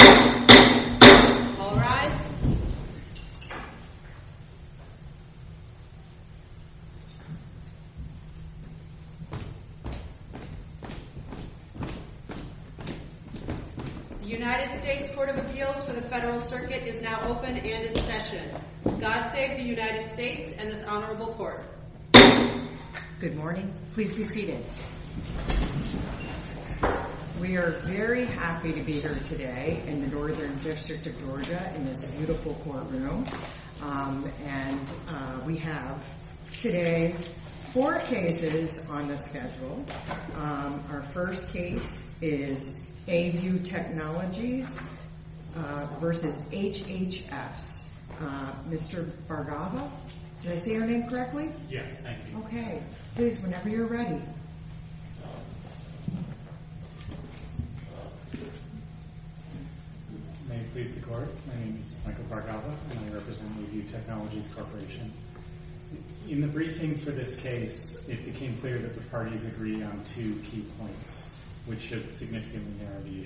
All rise. The United States Court of Appeals for the Federal Circuit is now open and in session. God save the United States and this honorable court. Good morning. Please be seated. We are very happy to be here today in the Northern District of Georgia in this beautiful courtroom. And we have today four cases on the schedule. Our first case is AU Technologies v. HHS. Mr. Bargava, did I say your name correctly? Yes, thank you. Okay. Please, whenever you're ready. May it please the court, my name is Michael Bargava and I represent the AU Technologies Corporation. In the briefing for this case, it became clear that the parties agreed on two key points which should significantly narrow the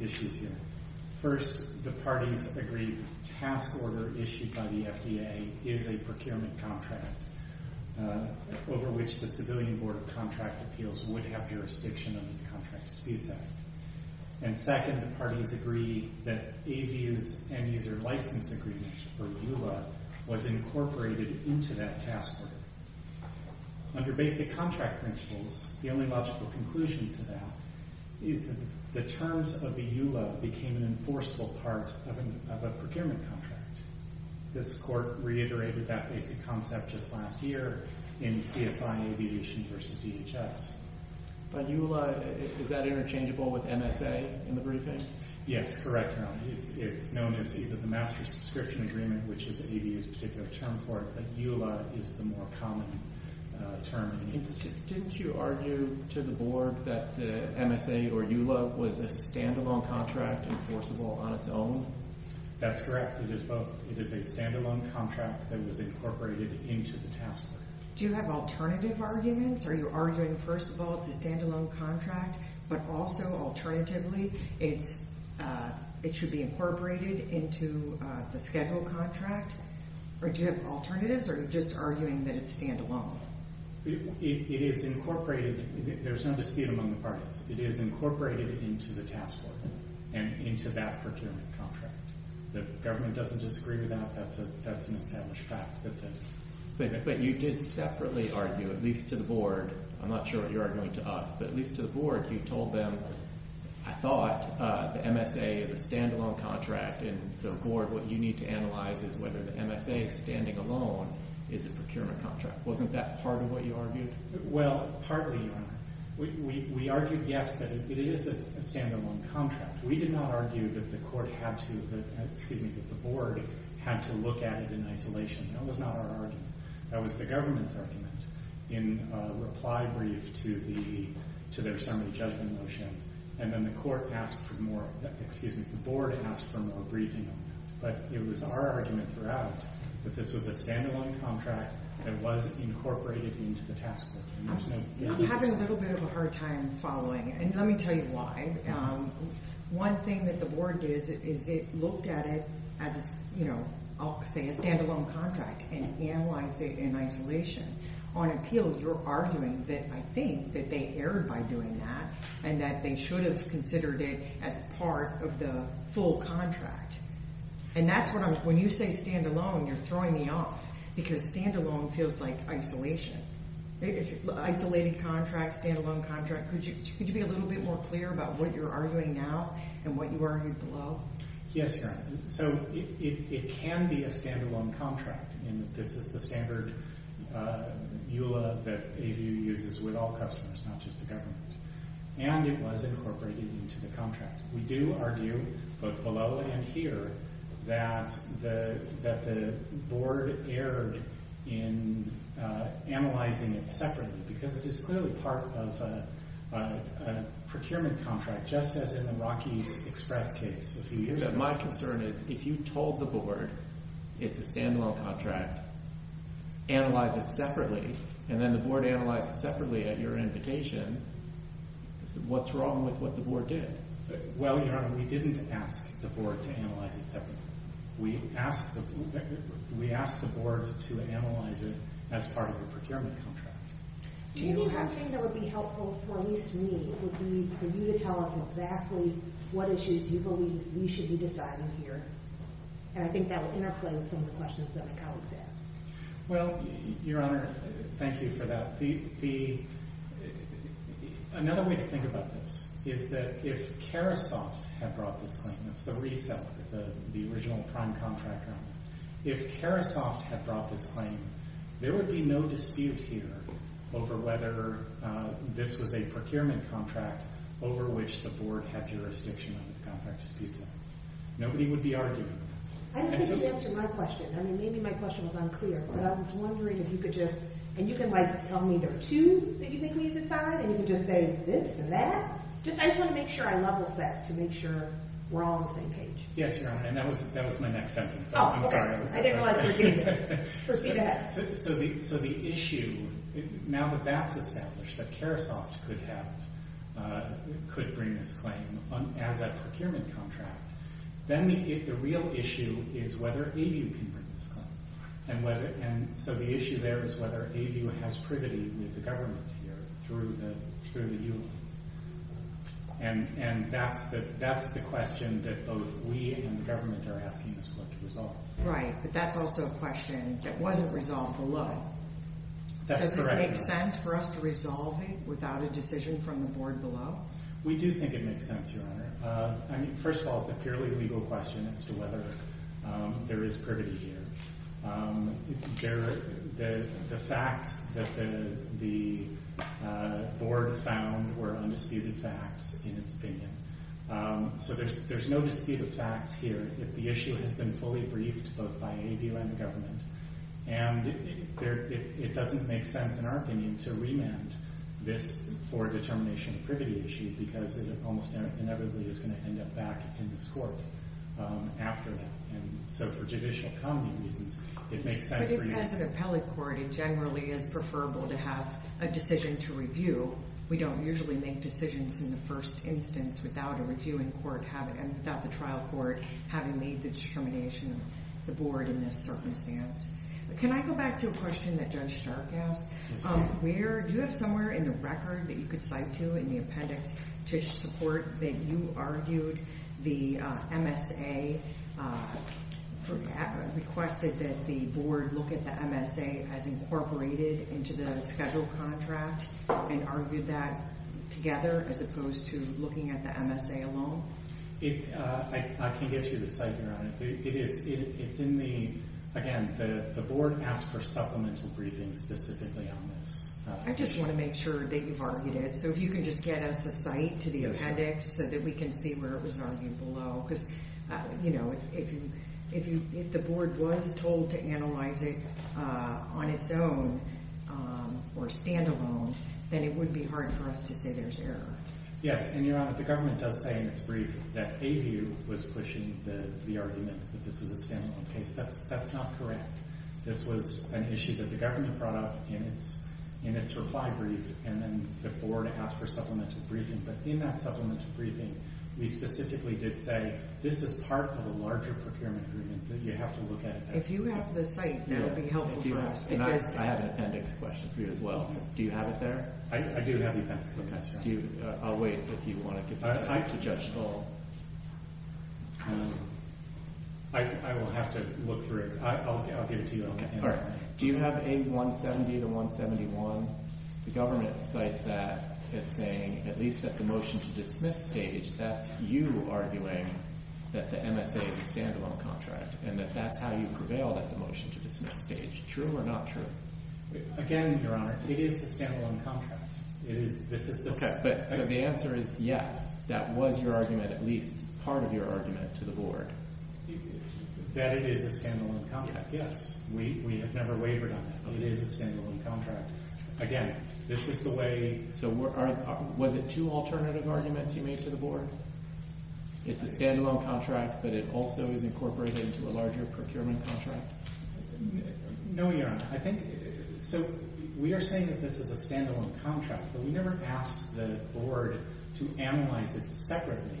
issues here. First, the parties agreed the task order issued by the FDA is a procurement contract. Over which the Civilian Board of Contract Appeals would have jurisdiction under the Contract Disputes Act. And second, the parties agreed that AVU's End User License Agreement, or EULA, was incorporated into that task order. Under basic contract principles, the only logical conclusion to that is that the terms of the EULA became an enforceable part of a procurement contract. This court reiterated that basic concept just last year in CSI Aviation v. DHS. But EULA, is that interchangeable with MSA in the briefing? Yes, correct. It's known as either the Master Subscription Agreement, which is AVU's particular term for it, but EULA is the more common term. Didn't you argue to the board that the MSA or EULA was a standalone contract enforceable on its own? That's correct. It is both. It is a standalone contract that was incorporated into the task order. Do you have alternative arguments? Are you arguing, first of all, it's a standalone contract, but also, alternatively, it should be incorporated into the schedule contract? Or do you have alternatives, or are you just arguing that it's standalone? It is incorporated. There's no dispute among the parties. It is incorporated into the task order and into that procurement contract. The government doesn't disagree with that. That's an established fact. But you did separately argue, at least to the board. I'm not sure what you're arguing to us. But at least to the board, you told them, I thought the MSA is a standalone contract. And so, board, what you need to analyze is whether the MSA standing alone is a procurement contract. Wasn't that part of what you argued? Well, partly, Your Honor. We argued, yes, that it is a standalone contract. We did not argue that the board had to look at it in isolation. That was not our argument. That was the government's argument in reply brief to their summary judgment motion. And then the board asked for a briefing on that. But it was our argument throughout that this was a standalone contract that was incorporated into the task order. I'm having a little bit of a hard time following it, and let me tell you why. One thing that the board did is it looked at it as, I'll say, a standalone contract and analyzed it in isolation. On appeal, you're arguing that I think that they erred by doing that and that they should have considered it as part of the full contract. And that's what I'm, when you say standalone, you're throwing me off because standalone feels like isolation. Isolated contract, standalone contract, could you be a little bit more clear about what you're arguing now and what you argued below? Yes, Your Honor. So it can be a standalone contract. And this is the standard EULA that AVU uses with all customers, not just the government. And it was incorporated into the contract. We do argue, both below and here, that the board erred in analyzing it separately because it is clearly part of a procurement contract, just as in the Rocky Express case. My concern is if you told the board it's a standalone contract, analyze it separately, and then the board analyzed it separately at your invitation, what's wrong with what the board did? Well, Your Honor, we didn't ask the board to analyze it separately. We asked the board to analyze it as part of a procurement contract. Maybe one thing that would be helpful, for at least me, would be for you to tell us exactly what issues you believe we should be deciding here. And I think that would interplay with some of the questions that my colleagues asked. Well, Your Honor, thank you for that. The, another way to think about this is that if Carisoft had brought this claim, it's the reseller, the original prime contractor. If Carisoft had brought this claim, there would be no dispute here over whether this was a procurement contract over which the board had jurisdiction under the Contract Disputes Act. Nobody would be arguing. I don't think you answered my question. I mean, maybe my question was unclear, but I was wondering if you could just, and you can, like, tell me there are two that you think we should decide, and you can just say this and that. Just, I just want to make sure I level set to make sure we're all on the same page. Yes, Your Honor, and that was my next sentence. Oh, okay. I didn't realize we were doing that. Proceed ahead. So the issue, now that that's established, that Carisoft could have, could bring this claim as a procurement contract, then the real issue is whether AVU can bring this claim. And so the issue there is whether AVU has privity with the government here through the U of M. And that's the question that both we and the government are asking this court to resolve. Right, but that's also a question that wasn't resolved below. Does it make sense for us to resolve it without a decision from the board below? We do think it makes sense, Your Honor. I mean, first of all, it's a purely legal question as to whether there is privity here. The facts that the board found were undisputed facts in its opinion. So there's no dispute of facts here if the issue has been fully briefed both by AVU and the government. And it doesn't make sense in our opinion to remand this for a determination of privity issue because it almost inevitably is going to end up back in this court after that. And so for judicial common reasons, it makes sense for you— But if it has an appellate court, it generally is preferable to have a decision to review. We don't usually make decisions in the first instance without a reviewing court and without the trial court having made the determination of the board in this circumstance. Can I go back to a question that Judge Stark asked? Do you have somewhere in the record that you could cite to in the appendix to support that you argued the MSA—requested that the board look at the MSA as incorporated into the schedule contract and argued that together as opposed to looking at the MSA alone? I can't get you the site, Your Honor. It's in the—again, the board asked for supplemental briefings specifically on this. I just want to make sure that you've argued it. And so if you can just get us a site to the appendix so that we can see where it was argued below. Because, you know, if the board was told to analyze it on its own or standalone, then it would be hard for us to say there's error. Yes, and Your Honor, the government does say in its brief that ABU was pushing the argument that this was a standalone case. That's not correct. This was an issue that the government brought up in its reply brief, and then the board asked for supplemental briefing. But in that supplemental briefing, we specifically did say this is part of a larger procurement agreement that you have to look at it. If you have the site, that would be helpful for us. I have an appendix question for you as well. Do you have it there? I do have the appendix. I'll wait if you want to get to it. It's time to judge Dole. I will have to look through it. I'll give it to you. All right. Do you have AB 170 to 171? The government cites that as saying, at least at the motion to dismiss stage, that's you arguing that the MSA is a standalone contract, and that that's how you prevailed at the motion to dismiss stage. True or not true? Again, Your Honor, it is the standalone contract. It is. So the answer is yes, that was your argument, at least part of your argument to the board. That it is a standalone contract. Yes. We have never wavered on it. It is a standalone contract. Again, this is the way. So was it two alternative arguments you made to the board? It's a standalone contract, but it also is incorporated into a larger procurement contract? No, Your Honor. So we are saying that this is a standalone contract, but we never asked the board to analyze it separately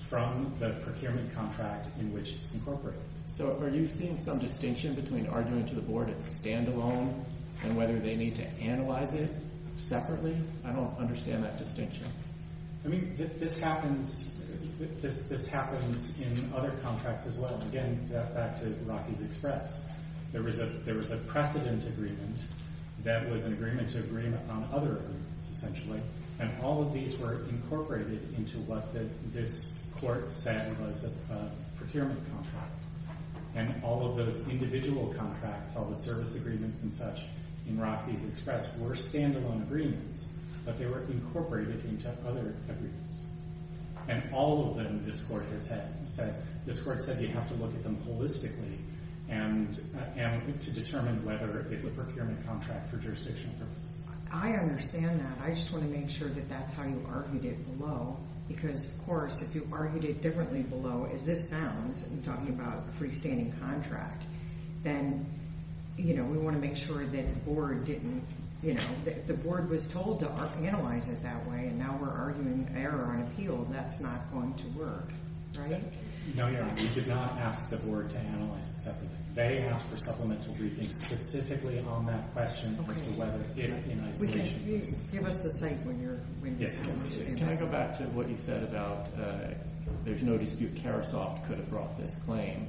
from the procurement contract in which it's incorporated. So are you seeing some distinction between arguing to the board it's standalone and whether they need to analyze it separately? I don't understand that distinction. I mean, this happens in other contracts as well. Again, back to Rocky's Express. There was a precedent agreement that was an agreement to agree on other agreements, essentially. And all of these were incorporated into what this court said was a procurement contract. And all of those individual contracts, all the service agreements and such in Rocky's Express were standalone agreements. But they were incorporated into other agreements. And all of them, this court said, you have to look at them holistically to determine whether it's a procurement contract for jurisdictional purposes. I understand that. I just want to make sure that that's how you argued it below. Because, of course, if you argued it differently below, as this sounds, in talking about a freestanding contract, then we want to make sure that the board was told to analyze it that way. And now we're arguing error on appeal. That's not going to work. Right? No, Your Honor. We did not ask the board to analyze it separately. They asked for supplemental briefings specifically on that question as to whether it did in isolation. Give us the statement. Yes, Your Honor. Can I go back to what you said about there's no dispute. Karasoff could have brought this claim.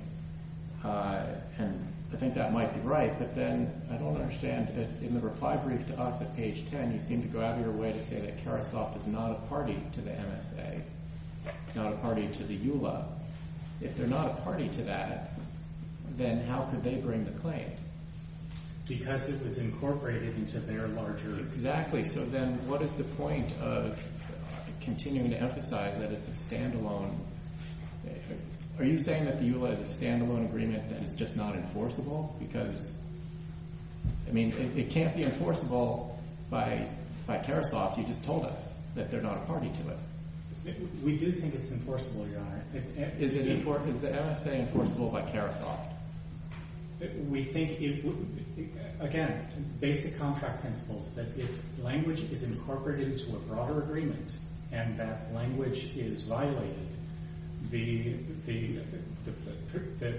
And I think that might be right. But then I don't understand. In the reply brief to us at page 10, you seem to go out of your way to say that Karasoff is not a party to the MSA, not a party to the EULA. If they're not a party to that, then how could they bring the claim? Because it was incorporated into their larger agreement. Exactly. So then what is the point of continuing to emphasize that it's a stand-alone? Are you saying that the EULA is a stand-alone agreement and it's just not enforceable? Because, I mean, it can't be enforceable by Karasoff. You just told us that they're not a party to it. We do think it's enforceable, Your Honor. Is the MSA enforceable by Karasoff? We think, again, basic contract principles, that if language is incorporated into a broader agreement and that language is violated, the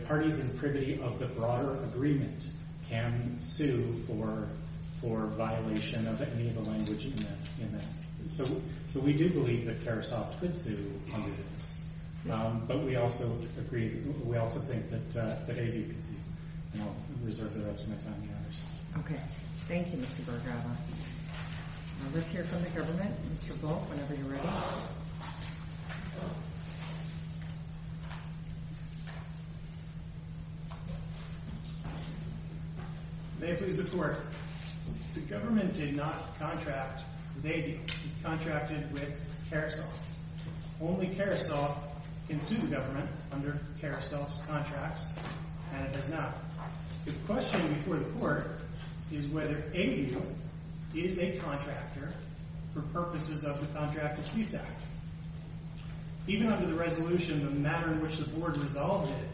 parties in privity of the broader agreement can sue for violation of any of the language in that. So we do believe that Karasoff could sue under this. But we also agree, we also think that AB can sue. And I'll reserve the rest of my time to the others. Okay. Thank you, Mr. Berger. Now let's hear from the government. Mr. Volk, whenever you're ready. May it please the Court. The government did not contract with AB. It contracted with Karasoff. Only Karasoff can sue the government under Karasoff's contracts, and it does not. The question before the Court is whether AB is a contractor for purposes of the Contract Disputes Act. Even under the resolution, the manner in which the Board resolved it,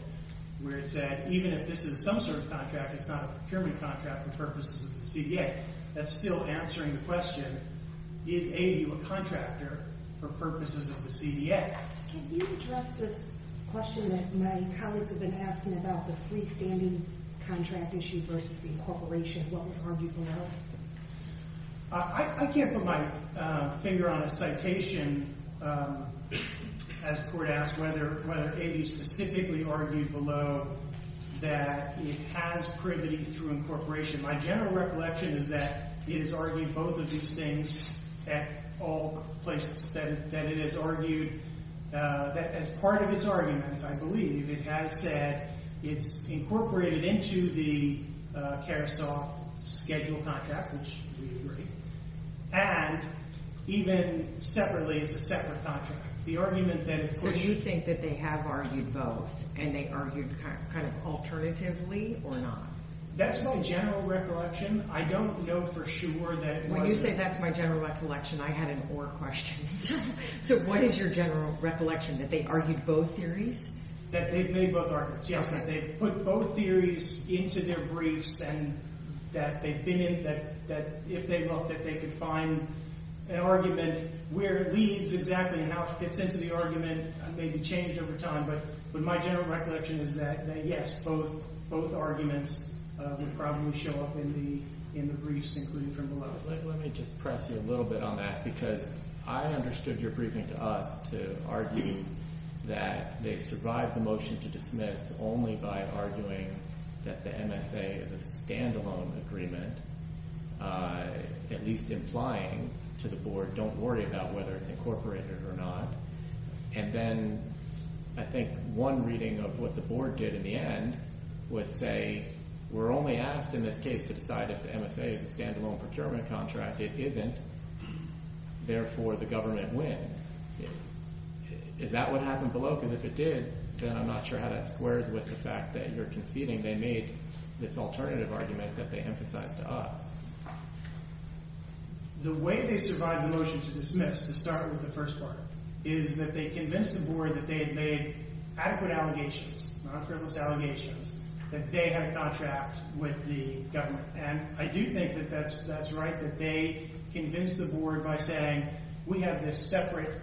where it said, even if this is some sort of contract, it's not a procurement contract for purposes of the CDA, that's still answering the question, is AB a contractor for purposes of the CDA? Can you address this question that my colleagues have been asking about the freestanding contract issue versus the incorporation? What was argued below? I can't put my finger on a citation, as the Court asked, whether AB specifically argued below that it has privity through incorporation. My general recollection is that it has argued both of these things at all places, that it has argued that as part of its arguments, I believe, it has said it's incorporated into the Karasoff schedule contract, which we agree, and even separately, it's a separate contract. The argument that it's— So you think that they have argued both, and they argued kind of alternatively or not? That's my general recollection. I don't know for sure that it was— When you say that's my general recollection, I had an or question. So what is your general recollection, that they argued both theories? That they've made both arguments, yes. That they've put both theories into their briefs and that they've been in— that if they looked, that they could find an argument where it leads exactly and how it gets into the argument may be changed over time. But my general recollection is that, yes, both arguments would probably show up in the briefs included from below. Let me just press you a little bit on that, because I understood your briefing to us to argue that they survived the motion to dismiss only by arguing that the MSA is a standalone agreement, at least implying to the Board, don't worry about whether it's incorporated or not. And then I think one reading of what the Board did in the end was say, we're only asked in this case to decide if the MSA is a standalone procurement contract. It isn't. Therefore, the government wins. Is that what happened below? Because if it did, then I'm not sure how that squares with the fact that you're conceding they made this alternative argument that they emphasized to us. The way they survived the motion to dismiss, to start with the first part, is that they convinced the Board that they had made adequate allegations, not frivolous allegations, that they had a contract with the government. And I do think that that's right, that they convinced the Board by saying, we have this separate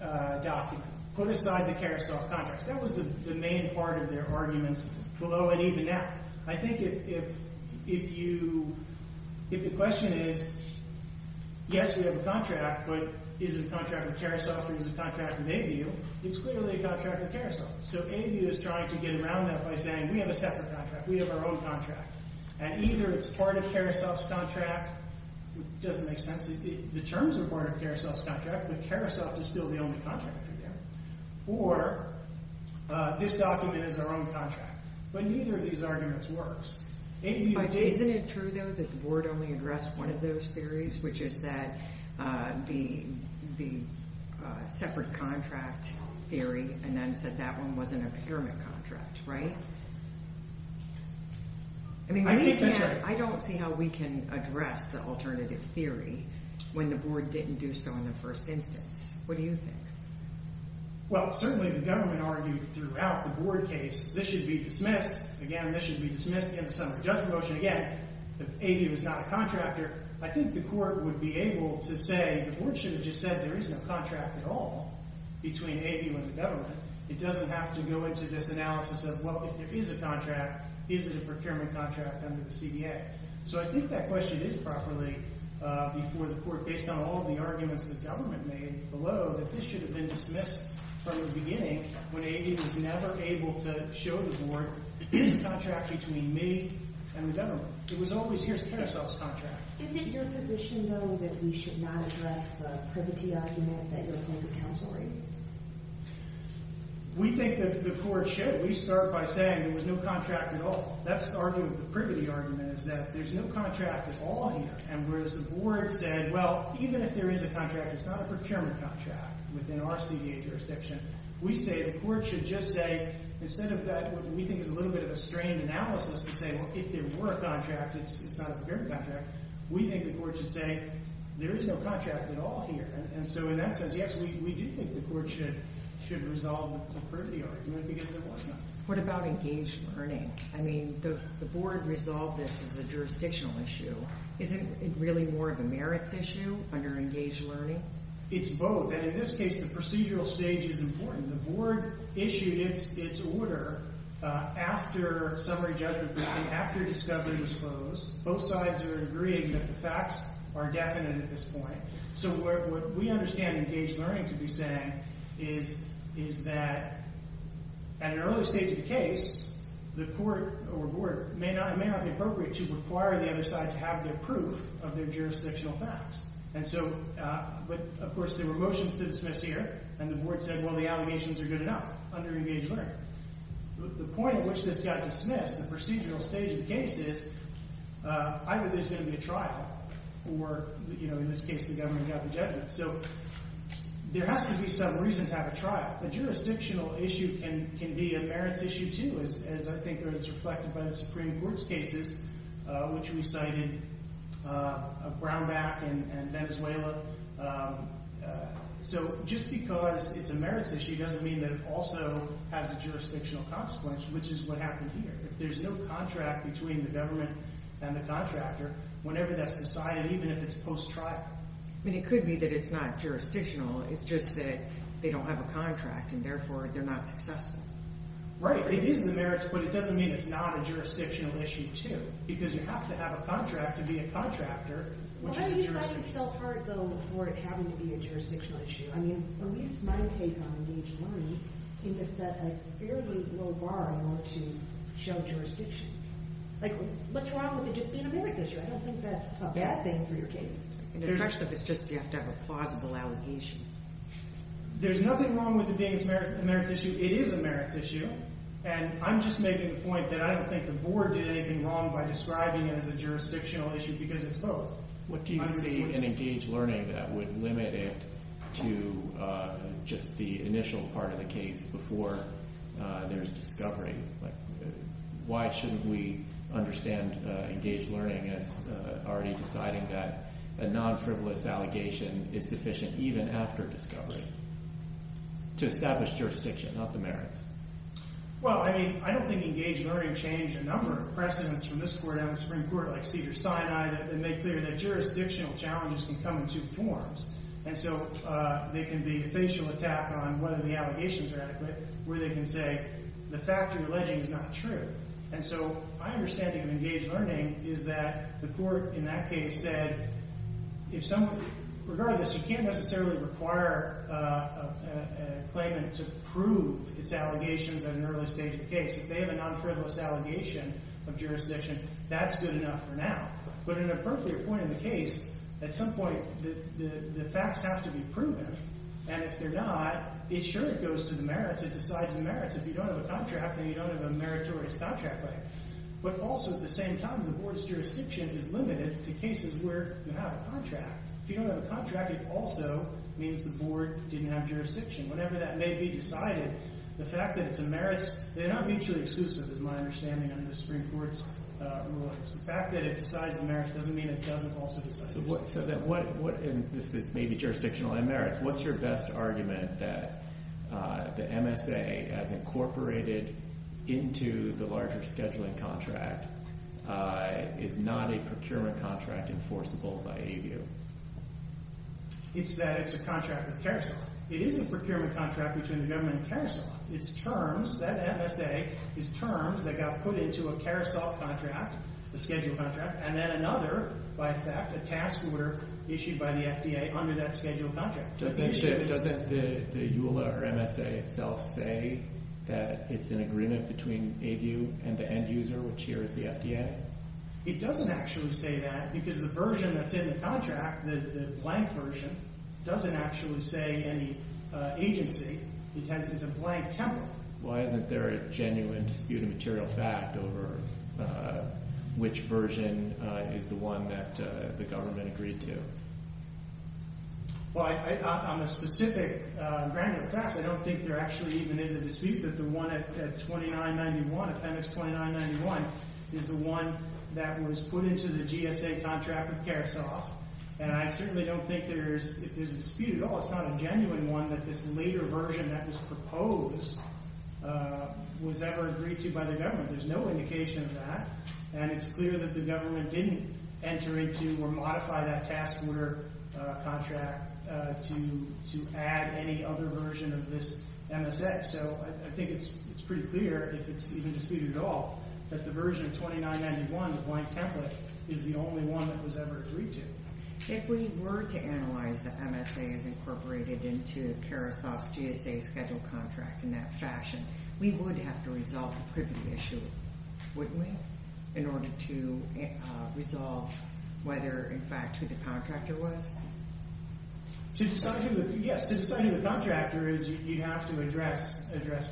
document. Put aside the Karasoff contracts. That was the main part of their arguments below and even now. I think if the question is, yes, we have a contract, but is it a contract with Karasoff or is it a contract with ABU, it's clearly a contract with Karasoff. So ABU is trying to get around that by saying, we have a separate contract. We have our own contract. And either it's part of Karasoff's contract. It doesn't make sense. The terms are part of Karasoff's contract, but Karasoff is still the only contract we have. Or this document is our own contract. But neither of these arguments works. Isn't it true, though, that the Board only addressed one of those theories, which is that the separate contract theory and then said that one wasn't a pyramid contract, right? I don't see how we can address the alternative theory when the Board didn't do so in the first instance. What do you think? Well, certainly the government argued throughout the Board case that this should be dismissed. Again, this should be dismissed in the summary judgment motion. Again, if ABU is not a contractor, I think the Court would be able to say, the Board should have just said there is no contract at all between ABU and the government. It doesn't have to go into this analysis of, well, if there is a contract, is it a procurement contract under the CDA? So I think that question is properly before the Court, based on all the arguments the government made below, that this should have been dismissed from the beginning when ABU was never able to show the Board, here's a contract between me and the government. It was always, here's a penicillin contract. Is it your position, though, that we should not address the privity argument that your opposite counsel raised? We think that the Court should. We start by saying there was no contract at all. That's the argument, the privity argument, is that there's no contract at all here, and whereas the Board said, well, even if there is a contract, it's not a procurement contract within our CDA jurisdiction. We say the Court should just say, instead of that, what we think is a little bit of a strained analysis to say, well, if there were a contract, it's not a procurement contract. We think the Court should say there is no contract at all here. And so in that sense, yes, we do think the Court should resolve the privity argument because there was none. What about engaged learning? I mean, the Board resolved this as a jurisdictional issue. Is it really more of a merits issue under engaged learning? It's both. In this case, the procedural stage is important. The Board issued its order after summary judgment briefing, after discovery was closed. Both sides are agreeing that the facts are definite at this point. So what we understand engaged learning to be saying is that at an early stage of the case, the Court or Board may not be appropriate to require the other side to have their proof of their jurisdictional facts. But, of course, there were motions to dismiss here, and the Board said, well, the allegations are good enough under engaged learning. The point at which this got dismissed, the procedural stage of the case, is either there's going to be a trial or, in this case, the government got the judgment. So there has to be some reason to have a trial. A jurisdictional issue can be a merits issue too, as I think is reflected by the Supreme Court's cases, which we cited of Brownback and Venezuela. So just because it's a merits issue doesn't mean that it also has a jurisdictional consequence, which is what happened here. If there's no contract between the government and the contractor, whenever that's decided, even if it's post-trial. It could be that it's not jurisdictional. It's just that they don't have a contract, and therefore they're not successful. Right. It is a merits, but it doesn't mean it's not a jurisdictional issue too, because you have to have a contract to be a contractor, which is a jurisdictional issue. Well, how do you drive yourself hard, though, for it having to be a jurisdictional issue? I mean, at least my take on engaged learning seemed to set a fairly low bar in order to show jurisdiction. Like, what's wrong with it just being a merits issue? I don't think that's a bad thing for your case. It's just that you have to have a plausible allegation. There's nothing wrong with it being a merits issue. It is a merits issue, and I'm just making the point that I don't think the board did anything wrong by describing it as a jurisdictional issue because it's both. What do you see in engaged learning that would limit it to just the initial part of the case before there's discovery? Like, why shouldn't we understand engaged learning as already deciding that a non-frivolous allegation is sufficient even after discovery to establish jurisdiction, not the merits? Well, I mean, I don't think engaged learning changed a number of precedents from this court down to the Supreme Court, like Cedars-Sinai, that made clear that jurisdictional challenges can come in two forms. And so they can be a facial attack on whether the allegations are adequate, where they can say the fact you're alleging is not true. And so my understanding of engaged learning is that the court in that case said, regardless, you can't necessarily require a claimant to prove its allegations at an early stage of the case. If they have a non-frivolous allegation of jurisdiction, that's good enough for now. But at an appropriate point in the case, at some point, the facts have to be proven. And if they're not, sure, it goes to the merits. It decides the merits. If you don't have a contract, then you don't have a meritorious contract. But also, at the same time, the board's jurisdiction is limited to cases where you have a contract. If you don't have a contract, it also means the board didn't have jurisdiction. Whatever that may be decided, the fact that it's a merits, they're not mutually exclusive, is my understanding, under the Supreme Court's rulings. The fact that it decides the merits doesn't mean it doesn't also decide the merits. This is maybe jurisdictional and merits. What's your best argument that the MSA, as incorporated into the larger scheduling contract, is not a procurement contract enforceable by a view? It's that it's a contract with Carousel. It is a procurement contract between the government and Carousel. It's terms. That MSA is terms that got put into a Carousel contract, a scheduled contract, and then another, by fact, a task order issued by the FDA under that scheduled contract. Doesn't the EULA or MSA itself say that it's an agreement between a view and the end user, which here is the FDA? It doesn't actually say that because the version that's in the contract, the blank version, doesn't actually say any agency. It has a blank template. Why isn't there a genuine dispute of material fact over which version is the one that the government agreed to? Well, on the specific granular facts, I don't think there actually even is a dispute that the one at 2991, appendix 2991, is the one that was put into the GSA contract with Carousel. And I certainly don't think there's a dispute at all. It's not a genuine one that this later version that was proposed was ever agreed to by the government. There's no indication of that. And it's clear that the government didn't enter into or modify that task order contract to add any other version of this MSA. So I think it's pretty clear, if it's even disputed at all, that the version of 2991, the blank template, is the only one that was ever agreed to. If we were to analyze the MSAs incorporated into Carousel's GSA scheduled contract in that fashion, we would have to resolve the privilege issue, wouldn't we, in order to resolve whether, in fact, who the contractor was? Yes, to decide who the contractor is, you'd have to address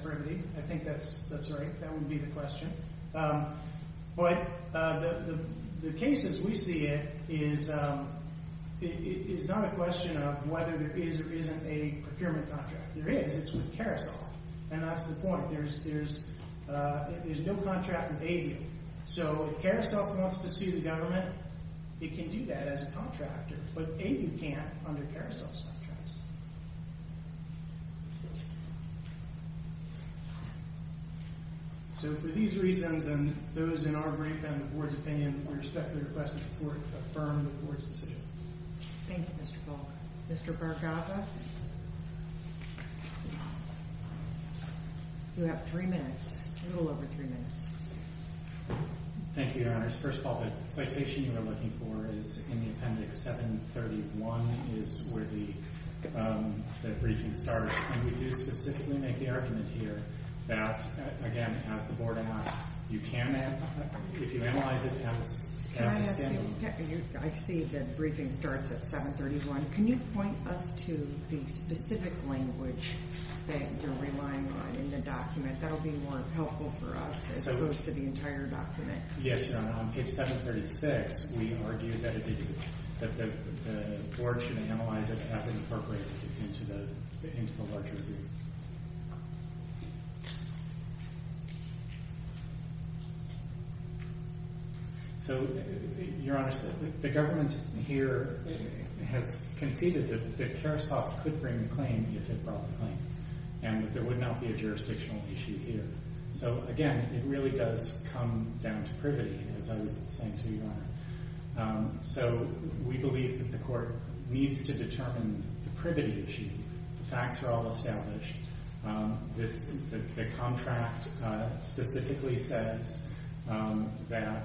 privity. I think that's right. That would be the question. But the case as we see it is not a question of whether there is or isn't a procurement contract. There is. It's with Carousel. And that's the point. There's no contract with ADO. So if Carousel wants to sue the government, it can do that as a contractor. But A, you can't under Carousel's contracts. So for these reasons and those in our brief and the Board's opinion, we respectfully request that the Court affirm the Board's decision. Thank you, Mr. Paul. Mr. Barkoffa? You have three minutes, a little over three minutes. Thank you, Your Honors. First of all, the citation you are looking for is in the appendix 731 is where the briefing starts. And we do specifically make the argument here that, again, as the Board asked, you can, if you analyze it as a scandal. I see the briefing starts at 731. Can you point us to the specific language that you're relying on in the document? That will be more helpful for us as opposed to the entire document. Yes, Your Honor. On page 736, we argue that the Board should analyze it as incorporated into the larger review. So, Your Honors, the government here has conceded that Carousel could bring the claim if it brought the claim. And that there would not be a jurisdictional issue here. So, again, it really does come down to privity, as I was saying to you, Your Honor. So we believe that the Court needs to determine the privity issue. The facts are all established. The contract specifically says that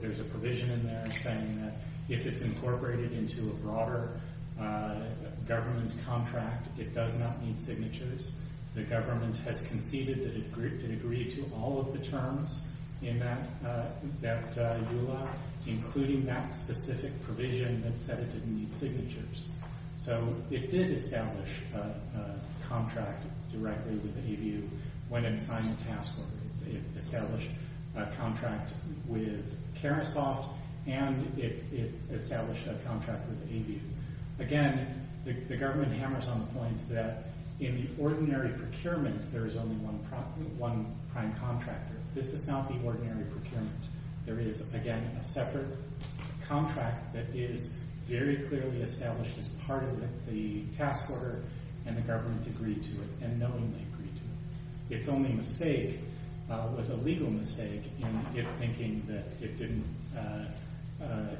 there's a provision in there saying that if it's incorporated into a broader government contract, it does not need signatures. The government has conceded that it agreed to all of the terms in that EULA, including that specific provision that said it didn't need signatures. So it did establish a contract directly with AVU when it signed the task order. It established a contract with Carousel, and it established a contract with AVU. Again, the government hammers on the point that in the ordinary procurement, there is only one prime contractor. This is not the ordinary procurement. There is, again, a separate contract that is very clearly established as part of the task order, and the government agreed to it, and knowingly agreed to it. Its only mistake was a legal mistake in thinking that it didn't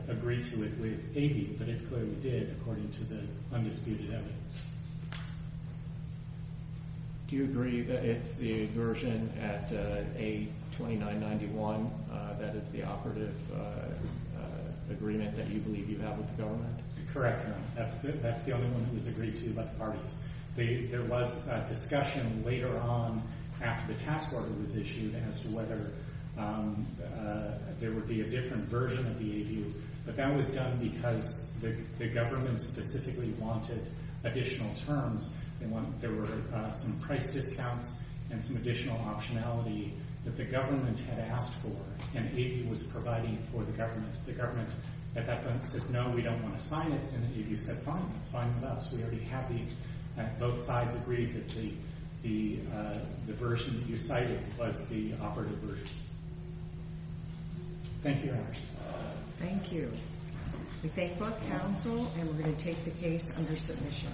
agree to it with AVU, but it clearly did, according to the undisputed evidence. Do you agree that it's the version at A2991 that is the operative agreement that you believe you have with the government? Correct, Your Honor. That's the only one that was agreed to by the parties. There was a discussion later on after the task order was issued as to whether there would be a different version of the AVU, but that was done because the government specifically wanted additional terms. There were some price discounts and some additional optionality that the government had asked for, and AVU was providing for the government. The government at that point said, no, we don't want to sign it, and AVU said, fine, that's fine with us. We already have these, and both sides agreed that the version that you cited was the operative version. Thank you, Your Honor. Thank you. We thank both counsel, and we're going to take the case under submission.